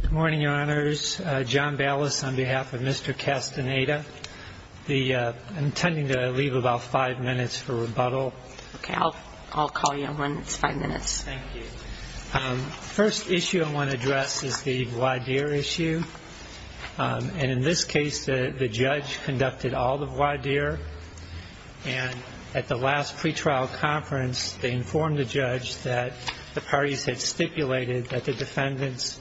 Good morning, your honors. John Ballas on behalf of Mr. Castaneda. I'm intending to leave about five minutes for rebuttal. Okay. I'll call you when it's five minutes. Thank you. The first issue I want to address is the voir dire issue. And in this case, the judge conducted all the voir dire. And at the last pretrial conference, they informed the judge that the parties had stipulated that the defendant's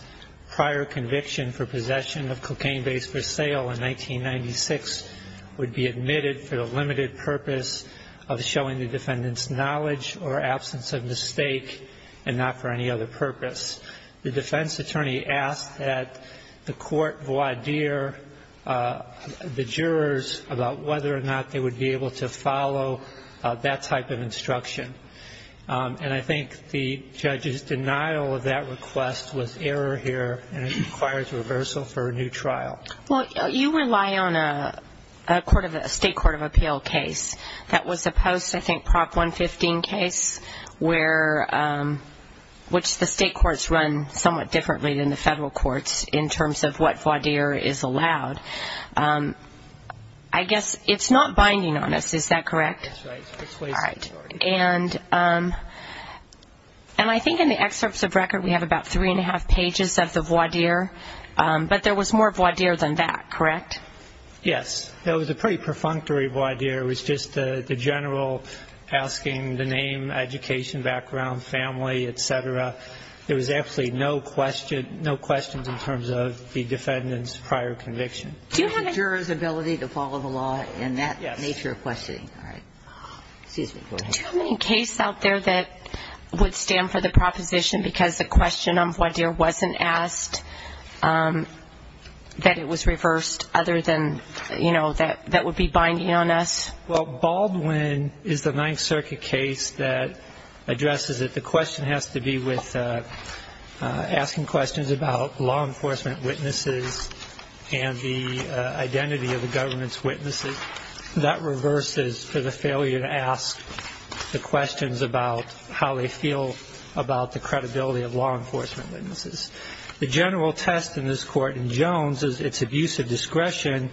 prior conviction for possession of cocaine base for sale in 1996 would be admitted for the limited purpose of showing the defendant's knowledge or absence of any other purpose. The defense attorney asked that the court voir dire the jurors about whether or not they would be able to follow that type of instruction. And I think the judge's denial of that request was error here, and it requires reversal for a new trial. Well, you rely on a state court of appeal case. That was a post, I think, Prop 115 case, which the state courts run somewhat differently than the federal courts in terms of what voir dire is allowed. I guess it's not binding on us. Is that correct? That's right. It's ways too short. And I think in the excerpts of record, we have about three and a half pages of the voir dire. But there was more voir dire than that, correct? Yes. It was a pretty perfunctory voir dire. It was just the general asking the name, education background, family, et cetera. There was actually no questions in terms of the defendant's prior conviction. Do you have a juror's ability to follow the law in that nature of questioning? Yes. Excuse me. Go ahead. Do you have any case out there that would stand for the proposition because the question on voir dire wasn't asked, that it was reversed other than, you know, that would be binding on us? Well, Baldwin is the Ninth Circuit case that addresses it. The question has to be with asking questions about law enforcement witnesses and the failure to ask the questions about how they feel about the credibility of law enforcement witnesses. The general test in this court in Jones is its abusive discretion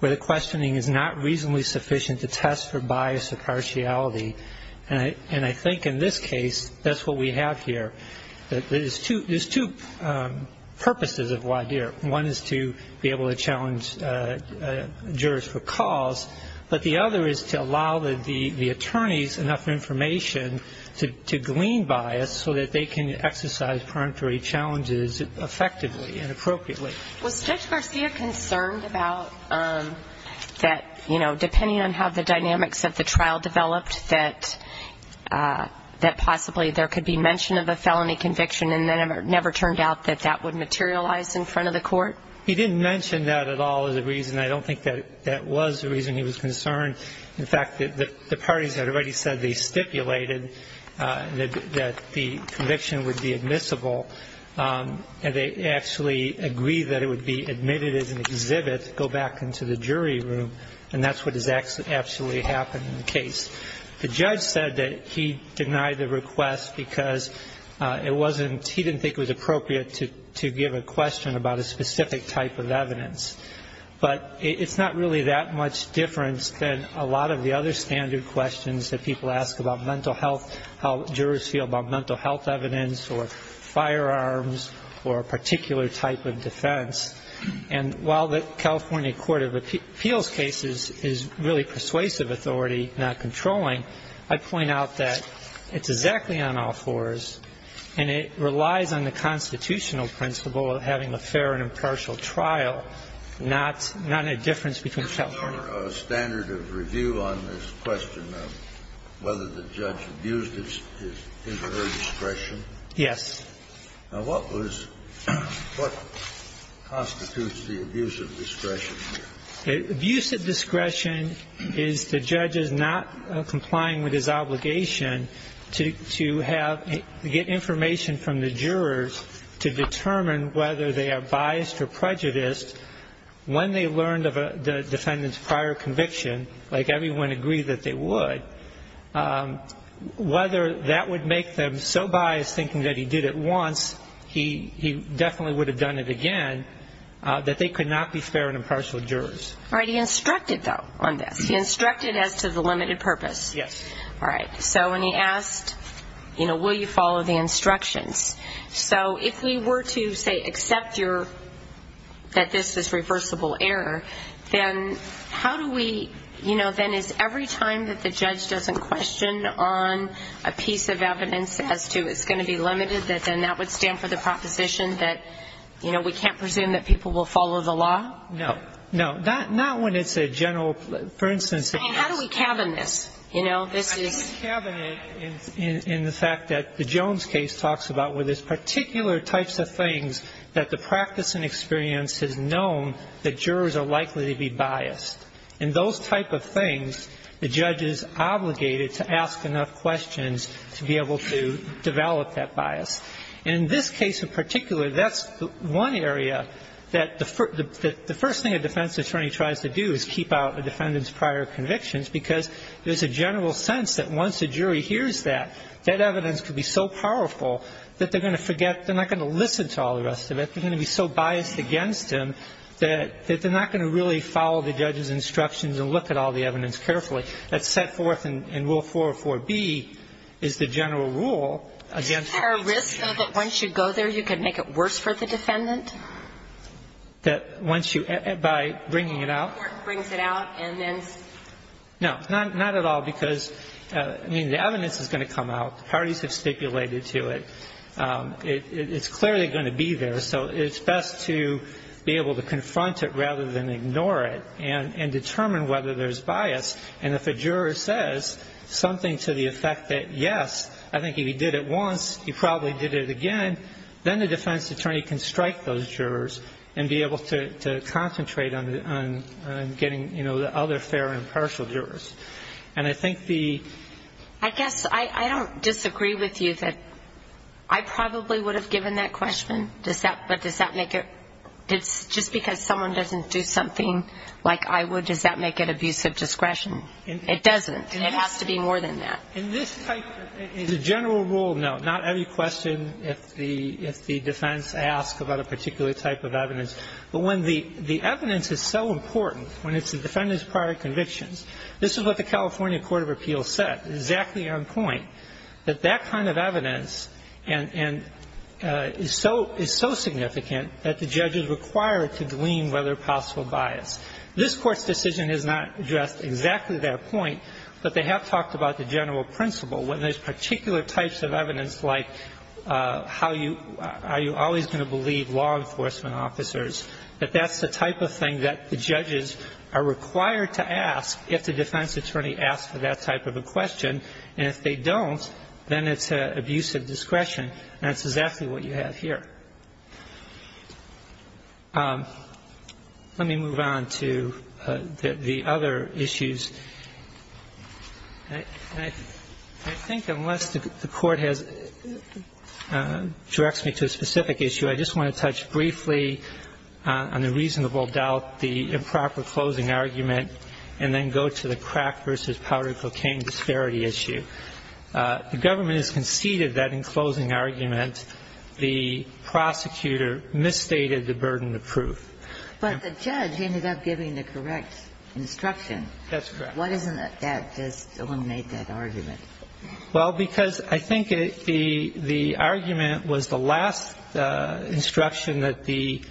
where the questioning is not reasonably sufficient to test for bias or partiality. And I think in this case, that's what we have here. There's two purposes of voir dire. One is to be able to challenge jurors for cause, but the other is to allow the attorneys enough information to glean bias so that they can exercise peremptory challenges effectively and appropriately. Was Judge Garcia concerned about that, you know, depending on how the dynamics of the trial developed, that possibly there could be mention of a felony conviction and then it never turned out that that would materialize in front of the court? He didn't mention that at all as a reason. I don't think that that was the reason he was concerned. In fact, the parties had already said they stipulated that the conviction would be admissible, and they actually agreed that it would be admitted as an exhibit, go back into the jury room, and that's what has actually happened in the case. The judge said that he denied the request because it wasn't, he didn't think it was appropriate to give a question about a specific type of evidence. But it's not really that much difference than a lot of the other standard questions that people ask about mental health, how jurors feel about mental health evidence or firearms or a particular type of defense. And while the California Court of Appeals case is really persuasive authority, not controlling, I'd point out that it's exactly on all fours, and it relies on the constitutional principle of having a fair and impartial trial, not a difference between California. Was there a standard of review on this question of whether the judge abused his or her discretion? Yes. Now, what was, what constitutes the abuse of discretion here? Abuse of discretion is the judge's not complying with his obligation to have, to get information from the jurors to determine whether they are biased or prejudiced when they learned of the defendant's prior conviction, like everyone agreed that they would. Whether that would make them so All right. He instructed, though, on this. He instructed as to the limited purpose. Yes. All right. So when he asked, you know, will you follow the instructions? So if we were to, say, accept your, that this is reversible error, then how do we, you know, then is every time that the judge doesn't question on a piece of evidence as to it's going to be limited, that then that would stand for the proposition that, you know, we can't presume that people will follow the law? No. No. Not when it's a general, for instance, it's How do we cabin this? You know, this is I think cabin it in the fact that the Jones case talks about where there's particular types of things that the practice and experience has known that jurors are likely to be biased. And those type of things, the judge is obligated to ask enough questions to be able to develop that bias. In this case in particular, that's one area that the first thing a defense attorney tries to do is keep out a defendant's prior convictions, because there's a general sense that once a jury hears that, that evidence could be so powerful that they're going to forget, they're not going to listen to all the rest of it. They're going to be so biased against him that they're not going to really follow the judge's instructions and look at all the evidence carefully. That's set forth in Rule 404B is the general rule against Is there a risk, though, that once you go there, you could make it worse for the defendant? That once you, by bringing it out? Or brings it out and then No. Not at all, because, I mean, the evidence is going to come out. The parties have stipulated to it. It's clearly going to be there. So it's best to be able to confront it rather than ignore it and determine whether there's bias, and if a juror says something to the effect that, yes, I think if he did it once, he probably did it again, then the defense attorney can strike those jurors and be able to concentrate on getting the other fair and impartial jurors. And I think the I guess I don't disagree with you that I probably would have given that question, but does that make it, just because someone doesn't do something like I would, does that make it abusive discretion? It doesn't. It has to be more than that. In this type of, in the general rule, no. Not every question, if the defense asks about a particular type of evidence. But when the evidence is so important, when it's the defendant's prior convictions, this is what the California Court of Appeals said, exactly on point, that that kind of evidence is so significant that the judge is required to glean whether possible bias. This Court's decision has not addressed exactly that point, but they have talked about the general principle. When there's particular types of evidence like how you, are you always going to believe law enforcement officers, that that's the type of thing that the judges are required to ask if the defense attorney asks for that type of a question. And if they don't, then it's abusive discretion. And that's exactly what you have here. Let me move on to the other issues. I think unless the Court has, directs me to a specific issue, I just want to touch briefly on the reasonable doubt, the improper closing argument, and then go to the crack versus powder cocaine disparity issue. The government has conceded that in closing argument, the prosecutor misstated the burden of proof. But the judge ended up giving the correct instruction. That's correct. Why doesn't that just eliminate that argument? Well, because I think the argument was the last instruction that the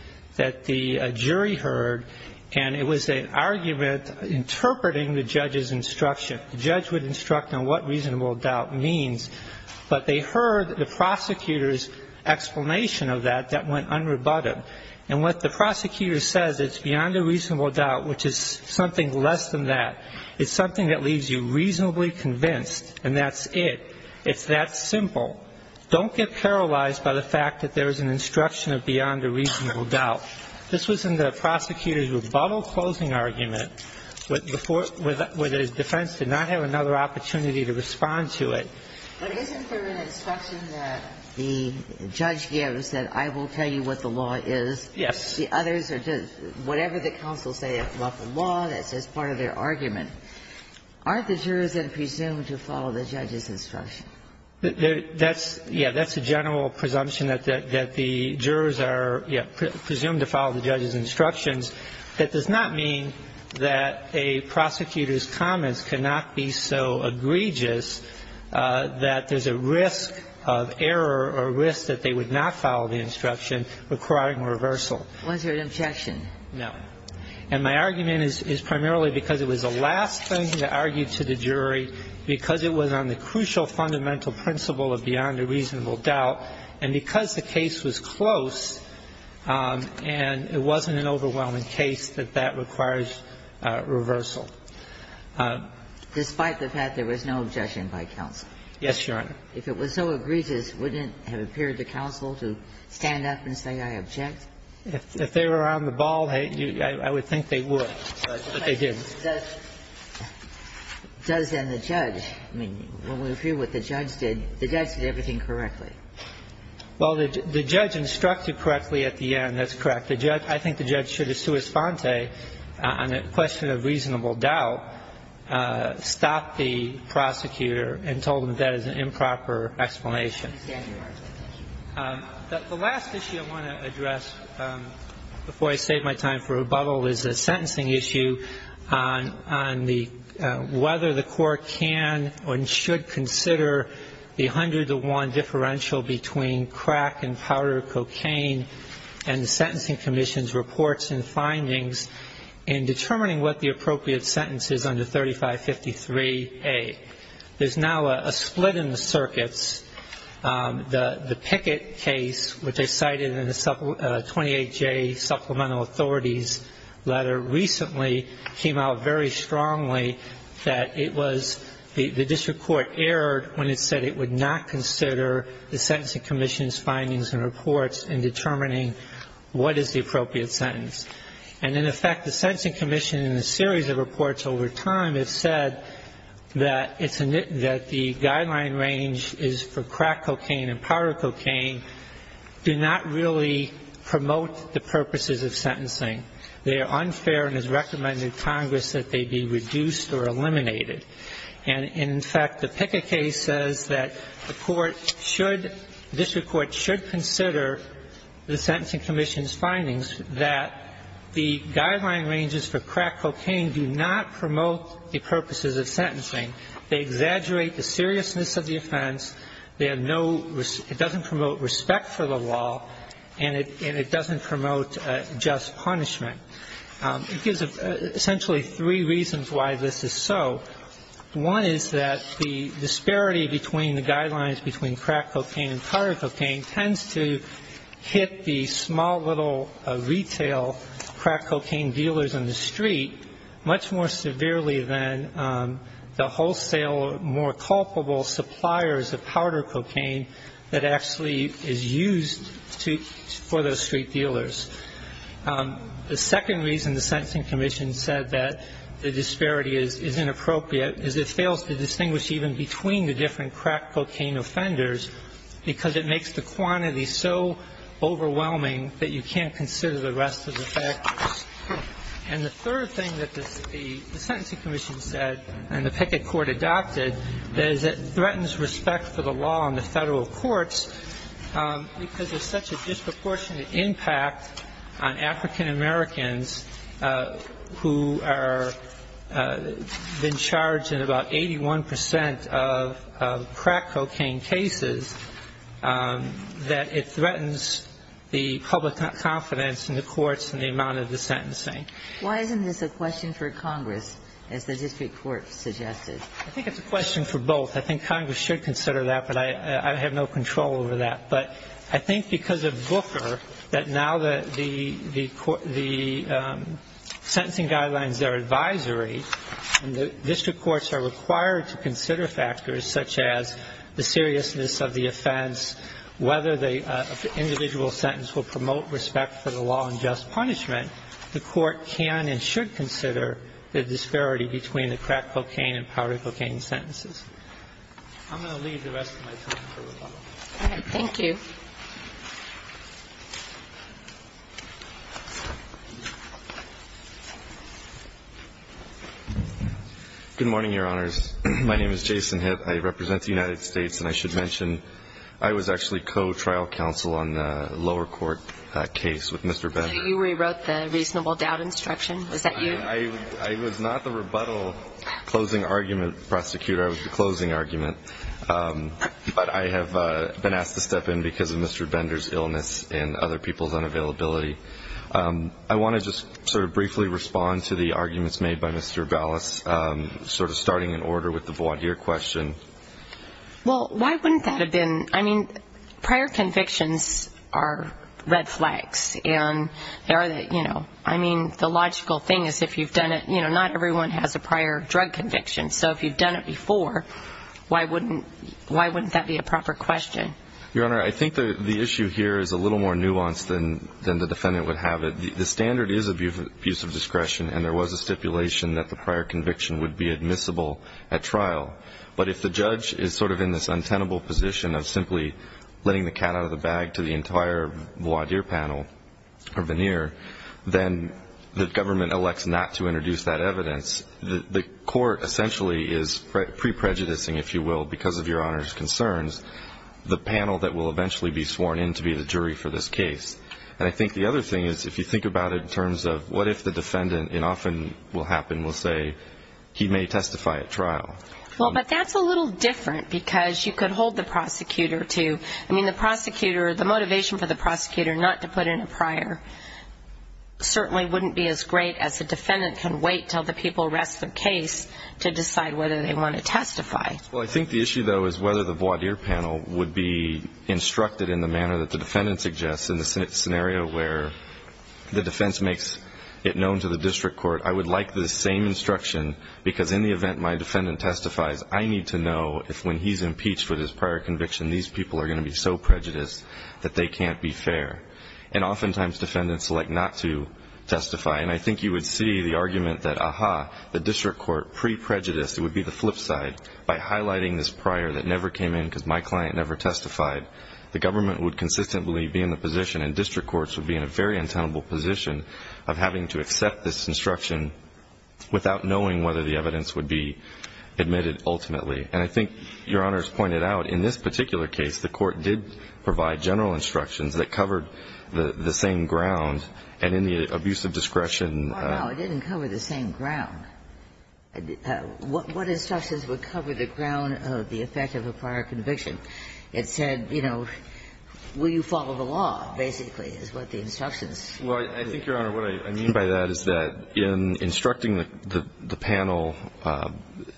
jury heard, and it was an argument interpreting the judge's instruction. The judge would instruct on what reasonable doubt means. But they heard the prosecutor's explanation of that that went unrebutted. And what the prosecutor says, it's beyond a reasonable doubt, which is something less than that. It's something that leaves you reasonably convinced, and that's it. It's that simple. Don't get paralyzed by the fact that there is an instruction of beyond a reasonable doubt. This was in the prosecutor's rebuttal closing argument, where his defense did not have another opportunity to respond to it. But isn't there an instruction that the judge gives that I will tell you what the law is? Yes. The others are just whatever the counsel says about the law, that's just part of their argument. Aren't the jurors then presumed to follow the judge's instruction? That's the general presumption that the jurors are presumed to follow the judge's instructions. That does not mean that a prosecutor's comments cannot be so egregious that there's a risk of error or risk that they would not follow the instruction requiring reversal. Was there an objection? No. And my argument is primarily because it was the last thing that argued to the jury because it was on the crucial fundamental principle of beyond a reasonable doubt, and because the case was close and it wasn't an overwhelming case, that that requires reversal. Despite the fact there was no objection by counsel? Yes, Your Honor. If it was so egregious, wouldn't it have appeared to counsel to stand up and say, I object? If they were on the ball, I would think they would, but they didn't. But does then the judge – I mean, when we review what the judge did, the judge did everything correctly. Well, the judge instructed correctly at the end. That's correct. The judge – I think the judge should have, sua sponte, on a question of reasonable doubt, stopped the prosecutor and told him that is an improper explanation. I understand, Your Honor. Thank you. The last issue I want to address before I save my time for rebuttal is a sentencing issue on the – whether the court can and should consider the 100 to 1 differential between crack and powder cocaine and the Sentencing Commission's reports and findings in determining what the appropriate sentence is under 3553A. There's now a split in the circuits. The Pickett case, which I cited in the 28J Supplemental Authorities Letter, recently came out very strongly that it was – the district court erred when it said it would not consider the Sentencing Commission's findings and reports in determining what is the appropriate sentence. And, in effect, the Sentencing Commission, in a series of reports over time, has said that it's – that the guideline range is for crack cocaine and powder cocaine do not really promote the purposes of sentencing. They are unfair and has recommended to Congress that they be reduced or eliminated. And, in fact, the Pickett case says that the court should – the district court should consider the Sentencing Commission's findings that the guideline ranges for crack cocaine do not promote the purposes of sentencing. They exaggerate the seriousness of the offense. They have no – it doesn't promote respect for the law, and it doesn't promote just punishment. It gives essentially three reasons why this is so. One is that the disparity between the guidelines between crack cocaine and powder cocaine tends to hit the small, little retail crack cocaine dealers in the street much more severely than the wholesale, more culpable suppliers of powder cocaine that actually is used to – for those street dealers. The second reason the Sentencing Commission said that the disparity is inappropriate is it fails to distinguish even between the different crack cocaine offenders because it makes the quantity so overwhelming that you can't consider the rest of the factors. And the third thing that the Sentencing Commission said and the Pickett court adopted is that it threatens respect for the law in the Federal courts because there's such a disproportionate impact on African-Americans who are being charged in about 81 percent of crack cocaine cases that it threatens the public confidence in the courts and the amount of the sentencing. Why isn't this a question for Congress, as the district court suggested? I think it's a question for both. I think Congress should consider that, but I have no control over that. But I think because of Booker that now that the sentencing guidelines are advisory and the district courts are required to consider factors such as the seriousness of the offense, whether the individual sentence will promote respect for the law and just punishment, the court can and should consider the disparity between the crack cocaine and powder cocaine sentences. I'm going to leave the rest of my time for rebuttal. All right. Thank you. Good morning, Your Honors. My name is Jason Hitt. I represent the United States, and I should mention I was actually co-trial counsel on the lower court case with Mr. Beck. You rewrote the reasonable doubt instruction? Was that you? I was not the rebuttal closing argument prosecutor. I was the closing argument. But I have been asked to step in because of Mr. Bender's illness and other people's unavailability. I want to just sort of briefly respond to the arguments made by Mr. Ballas, sort of starting in order with the voir dire question. Well, why wouldn't that have been? I mean, prior convictions are red flags. I mean, the logical thing is if you've done it, not everyone has a prior drug conviction. So if you've done it before, why wouldn't that be a proper question? Your Honor, I think the issue here is a little more nuanced than the defendant would have it. The standard is abuse of discretion, and there was a stipulation that the prior conviction would be admissible at trial. But if the judge is sort of in this untenable position of simply letting the cat out of the bag to the entire voir dire panel or veneer, then the government elects not to introduce that evidence. The court essentially is pre-prejudicing, if you will, because of Your Honor's concerns, the panel that will eventually be sworn in to be the jury for this case. And I think the other thing is if you think about it in terms of what if the defendant, and often will happen, will say he may testify at trial. Well, but that's a little different because you could hold the prosecutor to. I mean, the prosecutor, the motivation for the prosecutor not to put in a prior certainly wouldn't be as great as the defendant can wait until the people rest their case to decide whether they want to testify. Well, I think the issue, though, is whether the voir dire panel would be instructed in the manner that the defendant suggests in the scenario where the defense makes it known to the district court. I would like the same instruction because in the event my defendant testifies, I need to know if when he's impeached with his prior conviction these people are going to be so prejudiced that they can't be fair. And oftentimes defendants like not to testify, and I think you would see the argument that, aha, the district court pre-prejudiced, it would be the flip side by highlighting this prior that never came in because my client never testified. The government would consistently be in the position, and district courts would be in a very untenable position of having to accept this instruction without knowing whether the evidence would be admitted ultimately. And I think Your Honor's pointed out in this particular case, the court did provide general instructions that covered the same ground, and in the abuse of discretion. Well, no, it didn't cover the same ground. What instructions would cover the ground of the effect of a prior conviction? It said, you know, will you follow the law, basically, is what the instructions said. Well, I think, Your Honor, what I mean by that is that in instructing the panel,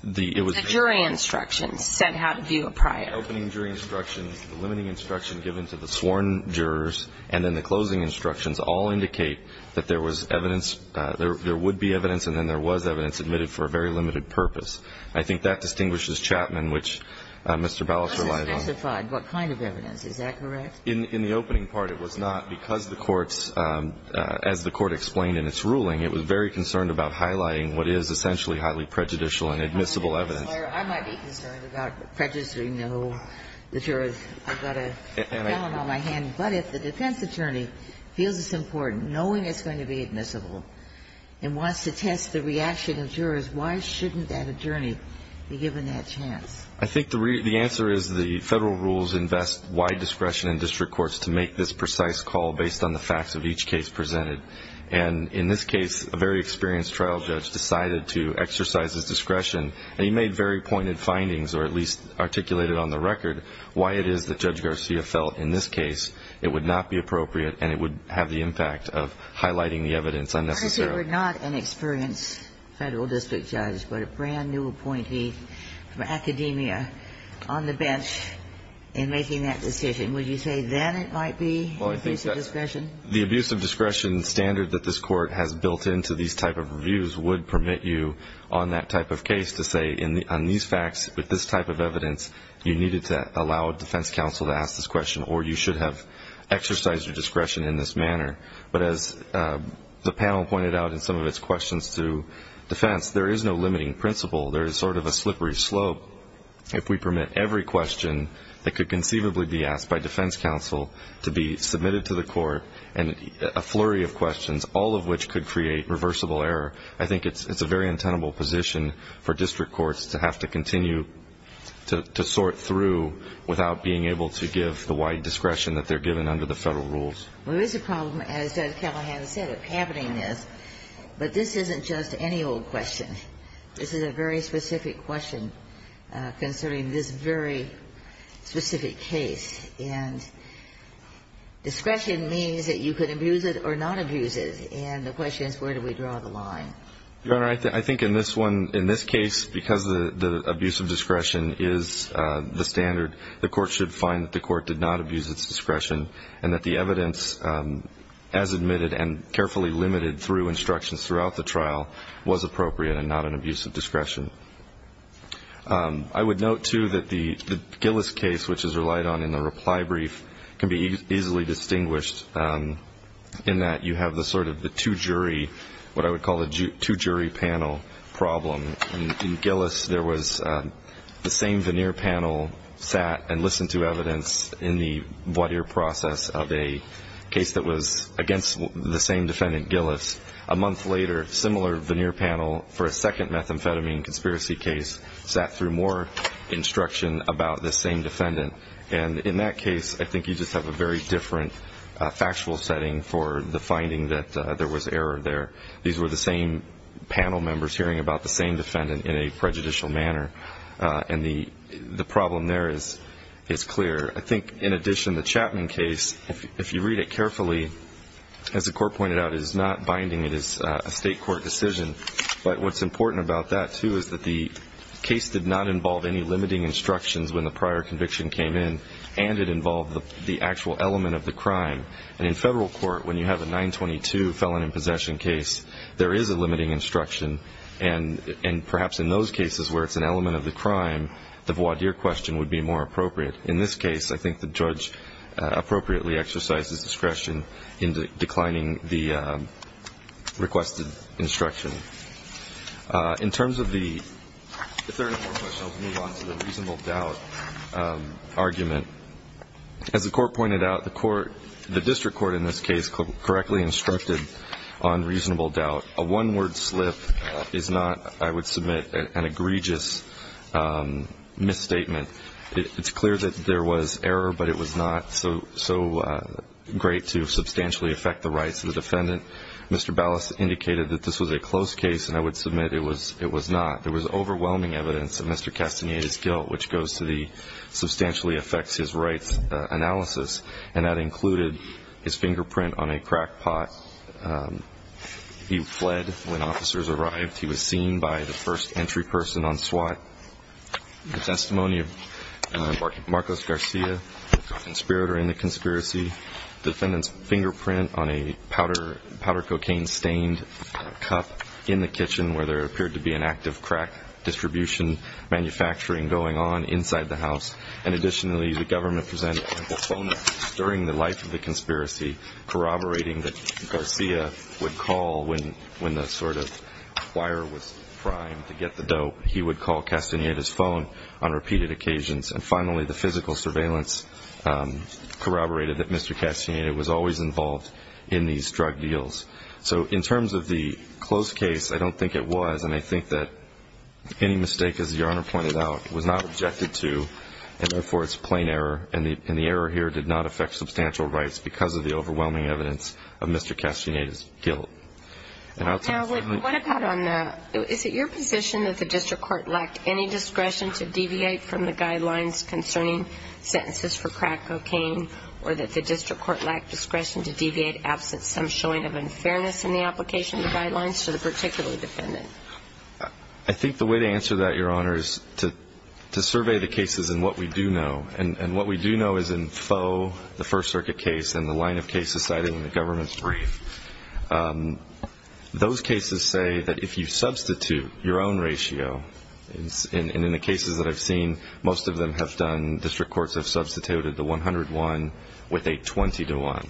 it was... The jury instructions said how to view a prior. The opening jury instructions, the limiting instruction given to the sworn jurors, and then the closing instructions all indicate that there was evidence, there would be evidence, and then there was evidence admitted for a very limited purpose. I think that distinguishes Chapman, which Mr. Ballas relied on. It doesn't specify what kind of evidence. Is that correct? In the opening part, it was not, because the courts, as the Court explained in its ruling, it was very concerned about highlighting what is essentially highly prejudicial and admissible evidence. I might be concerned about prejudicing the jurors. I've got a felon on my hand. But if the defense attorney feels it's important, knowing it's going to be admissible and wants to test the reaction of jurors, why shouldn't that attorney be given that chance? I think the answer is the Federal rules invest wide discretion in district courts to make this precise call based on the facts of each case presented. And in this case, a very experienced trial judge decided to exercise his discretion, and he made very pointed findings or at least articulated on the record why it is that Judge Garcia felt in this case it would not be appropriate and it would have the impact of highlighting the evidence unnecessarily. If you were not an experienced Federal district judge but a brand-new appointee from academia on the bench in making that decision, would you say then it might be an abuse of discretion? The abuse of discretion standard that this Court has built into these type of reviews would permit you on that type of case to say on these facts with this type of evidence you needed to allow a defense counsel to ask this question or you should have exercised your discretion in this manner. But as the panel pointed out in some of its questions to defense, there is no limiting principle. There is sort of a slippery slope. If we permit every question that could conceivably be asked by defense counsel to be submitted to the Court and a flurry of questions, all of which could create reversible error, I think it's a very untenable position for district courts to have to continue to sort through without being able to give the wide discretion that they're given under the Federal rules. There is a problem, as Judge Callahan said, of happening this. But this isn't just any old question. This is a very specific question concerning this very specific case. And discretion means that you could abuse it or not abuse it. And the question is where do we draw the line. Your Honor, I think in this one, in this case, because the abuse of discretion is the standard, the Court should find that the Court did not abuse its discretion and that the evidence, as admitted and carefully limited through instructions throughout the trial, was appropriate and not an abuse of discretion. I would note, too, that the Gillis case, which is relied on in the reply brief, can be easily distinguished in that you have the sort of the two-jury, what I would call a two-jury panel problem. In Gillis, there was the same veneer panel sat and listened to evidence in the voir dire process of a case that was against the same defendant, Gillis. A month later, similar veneer panel for a second methamphetamine conspiracy case sat through more instruction about the same defendant. And in that case, I think you just have a very different factual setting for the finding that there was error there. These were the same panel members hearing about the same defendant in a prejudicial manner. And the problem there is clear. I think, in addition, the Chapman case, if you read it carefully, as the Court pointed out, is not binding. It is a state court decision. But what's important about that, too, is that the case did not involve any limiting instructions when the prior conviction came in, and it involved the actual element of the crime. And in Federal court, when you have a 922 felon in possession case, there is a limiting instruction. And perhaps in those cases where it's an element of the crime, the voir dire question would be more appropriate. In this case, I think the judge appropriately exercises discretion in declining the requested instruction. In terms of the third and fourth questions, I'll move on to the reasonable doubt argument. As the Court pointed out, the District Court in this case correctly instructed on reasonable doubt. A one-word slip is not, I would submit, an egregious misstatement. It's clear that there was error, but it was not so great to substantially affect the rights of the defendant. Mr. Ballas indicated that this was a close case, and I would submit it was not. There was overwhelming evidence of Mr. Castaneda's guilt, which goes to the substantially affects his rights analysis, and that included his fingerprint on a crack pot. He fled when officers arrived. He was seen by the first entry person on SWAT. The testimony of Marcos Garcia, the conspirator in the conspiracy, defendant's fingerprint on a powder cocaine stained cup in the kitchen where there appeared to be an active crack distribution manufacturing going on inside the house. And additionally, the government presented a phone during the life of the conspiracy, corroborating that Garcia would call when the sort of wire was primed to get the dope. He would call Castaneda's phone on repeated occasions. And finally, the physical surveillance corroborated that Mr. Castaneda was always involved in these drug deals. So in terms of the close case, I don't think it was, and I think that any mistake, as Your Honor pointed out, was not objected to, and therefore it's plain error, and the error here did not affect substantial rights because of the overwhelming evidence of Mr. Castaneda's guilt. And I'll tell you something. Now, what about on the ñ is it your position that the district court lacked any discretion to deviate from the guidelines concerning sentences for crack cocaine, or that the district court lacked discretion to deviate absent some showing of unfairness in the application of the guidelines to the particular defendant? I think the way to answer that, Your Honor, is to survey the cases and what we do know. And what we do know is in FOE, the First Circuit case, and the line of cases cited in the government's brief, those cases say that if you substitute your own ratio, and in the cases that I've seen, most of them have done district courts have substituted the 101 with a 20 to 1.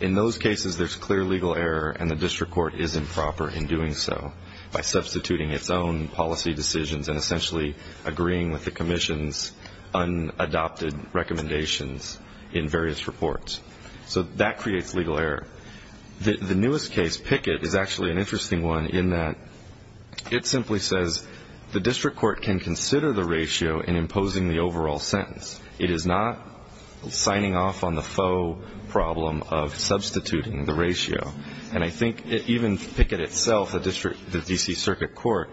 In those cases, there's clear legal error, and the district court is improper in doing so by substituting its own policy decisions and essentially agreeing with the commission's unadopted recommendations in various reports. So that creates legal error. The newest case, Pickett, is actually an interesting one in that it simply says, the district court can consider the ratio in imposing the overall sentence. It is not signing off on the FOE problem of substituting the ratio. And I think even Pickett itself, the D.C. Circuit Court,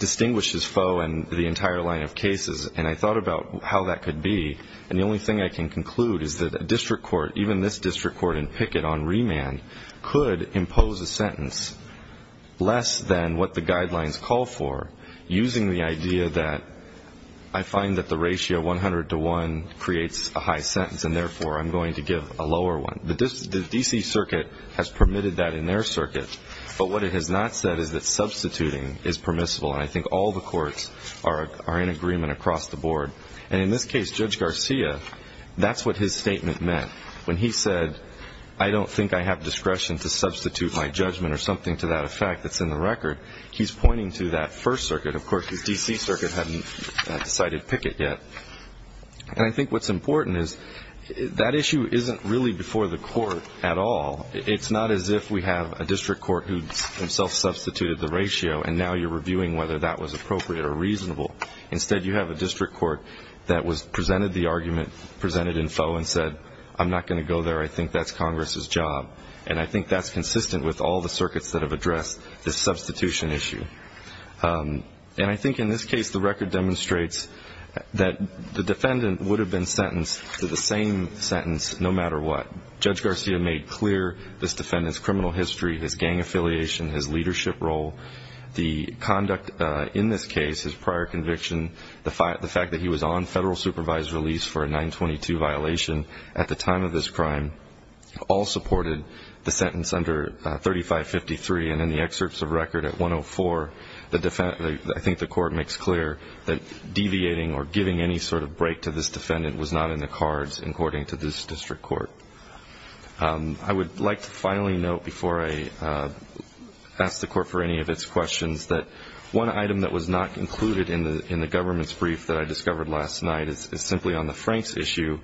distinguishes FOE and the entire line of cases, and I thought about how that could be. And the only thing I can conclude is that a district court, even this district court in Pickett on remand, could impose a sentence less than what the guidelines call for, using the idea that I find that the ratio 100 to 1 creates a high sentence, and therefore I'm going to give a lower one. The D.C. Circuit has permitted that in their circuit, but what it has not said is that substituting is permissible, and I think all the courts are in agreement across the board. And in this case, Judge Garcia, that's what his statement meant. When he said, I don't think I have discretion to substitute my judgment or something to that effect that's in the record, he's pointing to that First Circuit. Of course, the D.C. Circuit hadn't decided Pickett yet. And I think what's important is that issue isn't really before the court at all. It's not as if we have a district court who himself substituted the ratio and now you're reviewing whether that was appropriate or reasonable. Instead, you have a district court that was presented the argument, presented in foe, and said, I'm not going to go there. I think that's Congress's job. And I think that's consistent with all the circuits that have addressed this substitution issue. And I think in this case the record demonstrates that the defendant would have been sentenced to the same sentence no matter what. Judge Garcia made clear this defendant's criminal history, his gang affiliation, his leadership role, the conduct in this case, his prior conviction, the fact that he was on federal supervised release for a 922 violation at the time of this crime, all supported the sentence under 3553. And in the excerpts of record at 104, I think the court makes clear that deviating or giving any sort of break to this defendant was not in the cards according to this district court. I would like to finally note before I ask the court for any of its questions that one item that was not included in the government's brief that I discovered last night is simply on the Franks issue.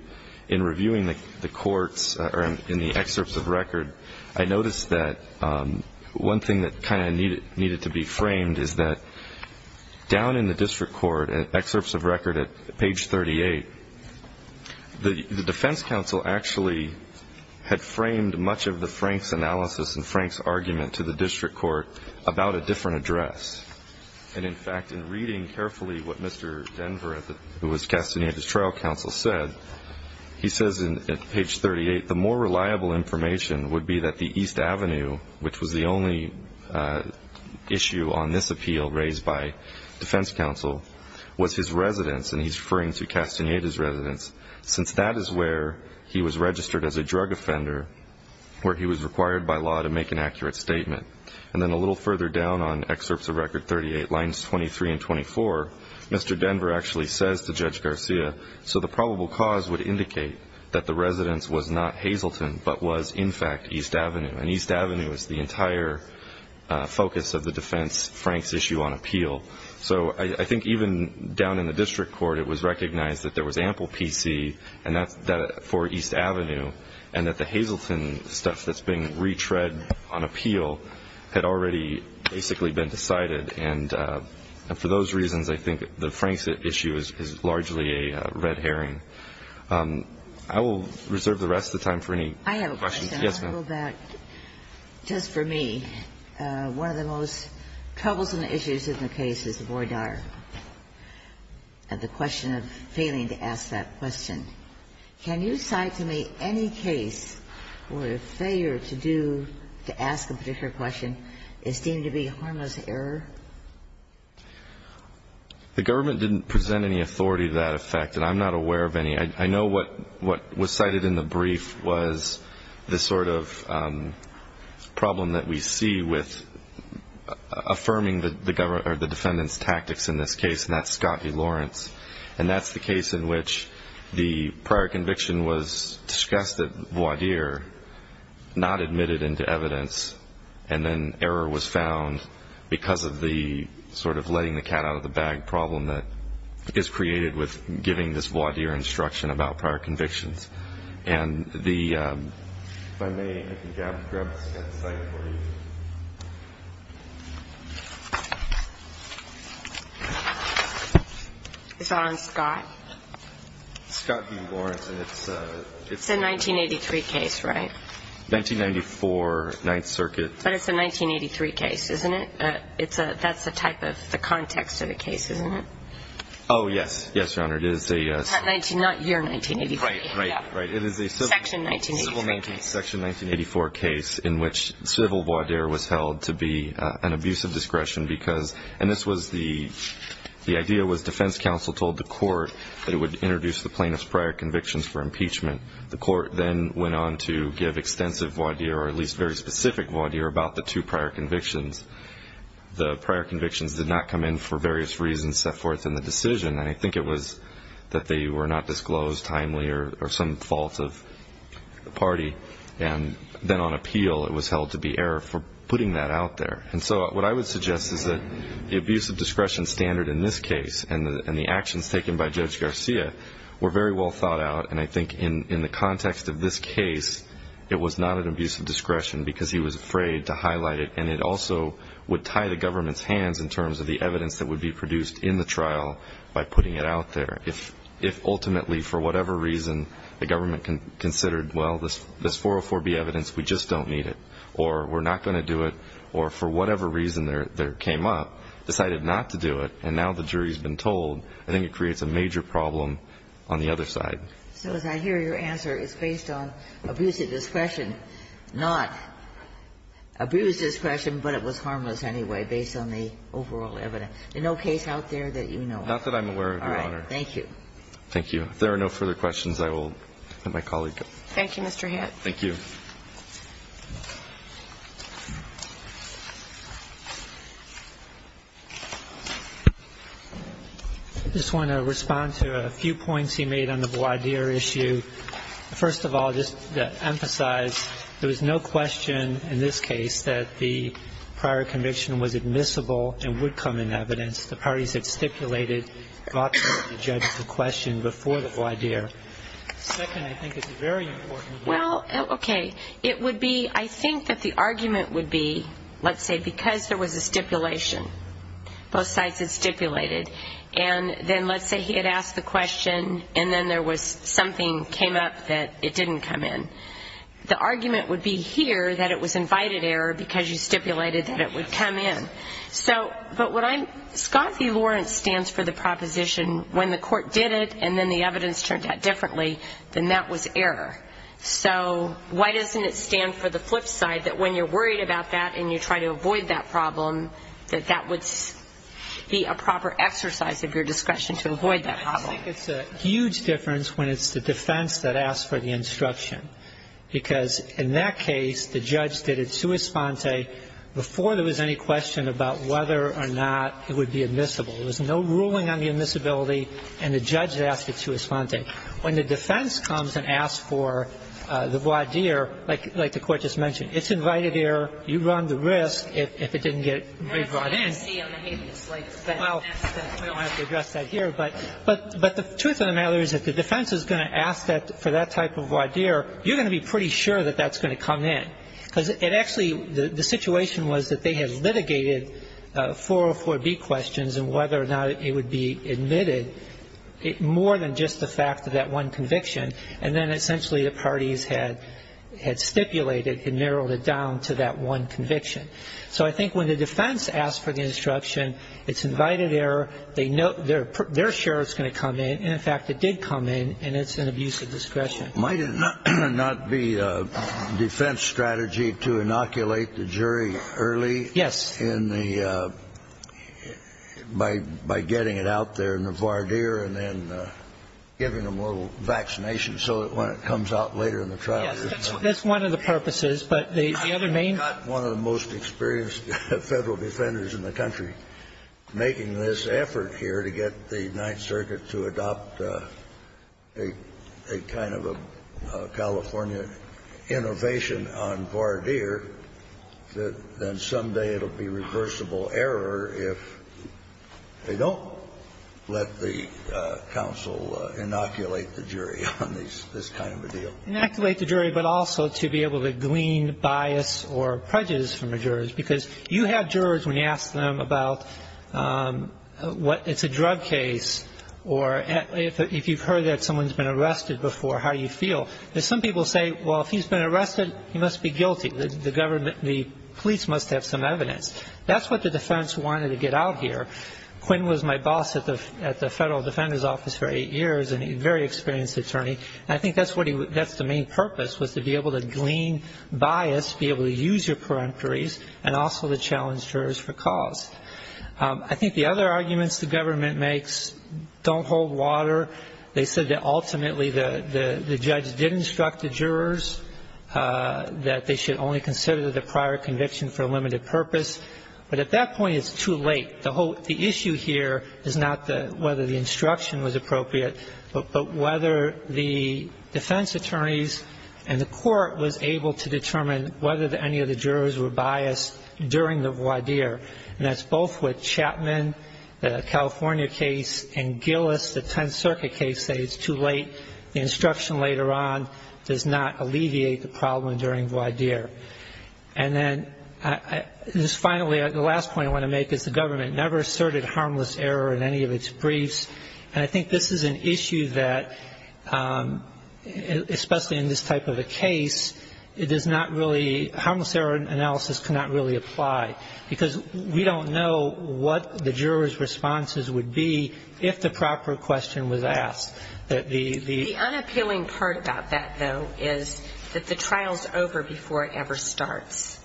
In reviewing the courts or in the excerpts of record, I noticed that one thing that kind of needed to be framed is that down in the district court, in excerpts of record at page 38, the defense counsel actually had framed much of the Franks analysis and Franks argument to the district court about a different address. And, in fact, in reading carefully what Mr. Denver, who was Castaneda's trial counsel, said, he says at page 38, the more reliable information would be that the East Avenue, which was the only issue on this appeal raised by defense counsel, was his residence, and he's referring to Castaneda's residence, since that is where he was registered as a drug offender, where he was required by law to make an accurate statement. And then a little further down on excerpts of record 38, lines 23 and 24, Mr. Denver actually says to Judge Garcia, so the probable cause would indicate that the residence was not Hazleton but was, in fact, East Avenue. And East Avenue is the entire focus of the defense Franks issue on appeal. So I think even down in the district court it was recognized that there was ample PC for East Avenue and that the Hazleton stuff that's being retread on appeal had already basically been decided. And for those reasons, I think the Franks issue is largely a red herring. I will reserve the rest of the time for any questions. Yes, ma'am. I have a question. I'll go back just for me. One of the most troublesome issues in the case is the voir dire and the question of failing to ask that question. Can you cite to me any case where failure to do, to ask a particular question, is deemed to be harmless error? The government didn't present any authority to that effect, and I'm not aware of any. I know what was cited in the brief was the sort of problem that we see with affirming the defendant's tactics in this case, and that's Scottie Lawrence. And that's the case in which the prior conviction was discussed at voir dire, not admitted into evidence, and then error was found because of the sort of letting the cat out of the bag problem that is created with giving this voir dire instruction about prior convictions. And the ‑‑ if I may, I can grab the slide for you. It's on Scott? Scottie Lawrence, and it's a ‑‑ It's a 1983 case, right? 1994, Ninth Circuit. But it's a 1983 case, isn't it? That's the type of, the context of the case, isn't it? Oh, yes. Yes, Your Honor, it is a ‑‑ Not year 1983. Right, right, right. It is a ‑‑ Section 1984. Section 1984 case in which civil voir dire was held to be an abuse of discretion because, and this was the idea was defense counsel told the court that it would introduce the plaintiff's prior convictions for impeachment. The court then went on to give extensive voir dire or at least very specific voir dire about the two prior convictions. The prior convictions did not come in for various reasons set forth in the decision, and I think it was that they were not disclosed timely or some fault of the party, and then on appeal it was held to be error for putting that out there. And so what I would suggest is that the abuse of discretion standard in this case and the actions taken by Judge Garcia were very well thought out, and I think in the context of this case it was not an abuse of discretion because he was afraid to highlight it, and it also would tie the government's hands in terms of the evidence that would be produced in the trial by putting it out there. If ultimately for whatever reason the government considered, well, this 404B evidence, we just don't need it, or we're not going to do it, or for whatever reason there came up, decided not to do it, and now the jury has been told, I think it creates a major problem on the other side. So as I hear your answer, it's based on abuse of discretion, not abuse of discretion, but it was harmless anyway based on the overall evidence. Is there no case out there that you know of? Not that I'm aware of, Your Honor. All right. Thank you. Thank you. If there are no further questions, I will let my colleague go. Thank you, Mr. Head. Thank you. I just want to respond to a few points he made on the voir dire issue. First of all, just to emphasize, there was no question in this case that the prior conviction was admissible and would come in evidence. The parties had stipulated that the judge should question before the voir dire. Second, I think it's a very important point. Well, okay. It would be, I think that the argument would be, let's say because there was a stipulation, both sides had stipulated, and then let's say he had asked the question and then there was something came up that it didn't come in. The argument would be here that it was invited error because you stipulated that it would come in. So, but what I'm, Scott v. Lawrence stands for the proposition when the court did it and then the evidence turned out differently, then that was error. So why doesn't it stand for the flip side that when you're worried about that and you try to avoid that problem, that that would be a proper exercise of your discretion to avoid that problem? I think it's a huge difference when it's the defense that asks for the instruction because in that case, the judge did it sua sponte before there was any question about whether or not it would be admissible. There was no ruling on the admissibility and the judge asked it sua sponte. When the defense comes and asks for the voir dire, like the Court just mentioned, it's invited error. You run the risk if it didn't get brought in. Well, we don't have to address that here, but the truth of the matter is if the defense is going to ask for that type of voir dire, you're going to be pretty sure that that's going to come in because it actually, the situation was that they had litigated 404B questions on whether or not it would be admitted, more than just the fact of that one conviction. And then essentially the parties had stipulated and narrowed it down to that one conviction. So I think when the defense asks for the instruction, it's invited error. They know their sheriff's going to come in. And, in fact, it did come in, and it's an abuse of discretion. Might it not be a defense strategy to inoculate the jury early in the, by getting it out there in the voir dire and then giving them a little vaccination so that when it comes out later in the trial. Yes. That's one of the purposes. But the other main. I'm not one of the most experienced federal defenders in the country making this effort here to get the Ninth Circuit to adopt a kind of a California innovation on voir dire, that then someday it will be reversible error if they don't let the counsel inoculate the jury on this kind of a deal. Inoculate the jury, but also to be able to glean bias or prejudice from the jurors. Because you have jurors when you ask them about it's a drug case or if you've heard that someone's been arrested before, how do you feel? Some people say, well, if he's been arrested, he must be guilty. The police must have some evidence. That's what the defense wanted to get out here. Quinn was my boss at the federal defender's office for eight years, and a very experienced attorney. And I think that's the main purpose, was to be able to glean bias, be able to use your peremptories, and also to challenge jurors for cause. I think the other arguments the government makes don't hold water. They said that ultimately the judge did instruct the jurors that they should only consider the prior conviction for a limited purpose. But at that point, it's too late. The issue here is not whether the instruction was appropriate, but whether the defense attorneys and the court was able to determine whether any of the jurors were biased during the voir dire. And that's both with Chapman, the California case, and Gillis, the Tenth Circuit case. They say it's too late. The instruction later on does not alleviate the problem during voir dire. And then finally, the last point I want to make is the government never asserted harmless error in any of its briefs. And I think this is an issue that, especially in this type of a case, it does not really, harmless error analysis cannot really apply. Because we don't know what the jurors' responses would be if the proper question was asked. The unappealing part about that, though, is that the trial's over before it ever starts.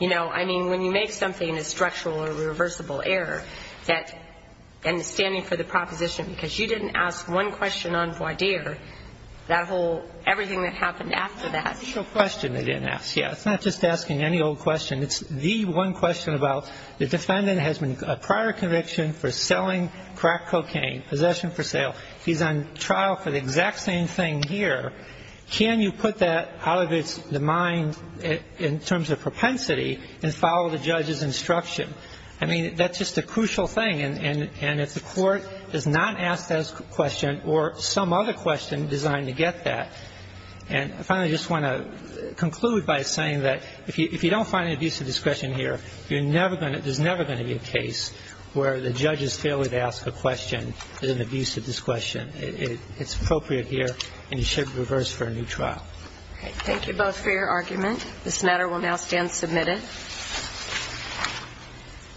You know, I mean, when you make something a structural or reversible error, that understanding for the proposition, because you didn't ask one question on voir dire, that whole everything that happened after that. The question they didn't ask, yes. It's not just asking any old question. It's the one question about the defendant has a prior conviction for selling crack cocaine, possession for sale. He's on trial for the exact same thing here. Can you put that out of the mind in terms of propensity and follow the judge's instruction? I mean, that's just a crucial thing. And if the court does not ask that question or some other question designed to get that and I finally just want to conclude by saying that if you don't find an abuse of discretion here, you're never going to, there's never going to be a case where the judge has failed to ask a question with an abuse of discretion. It's appropriate here and you should reverse for a new trial. Thank you both for your argument. This matter will now stand submitted. Thank you.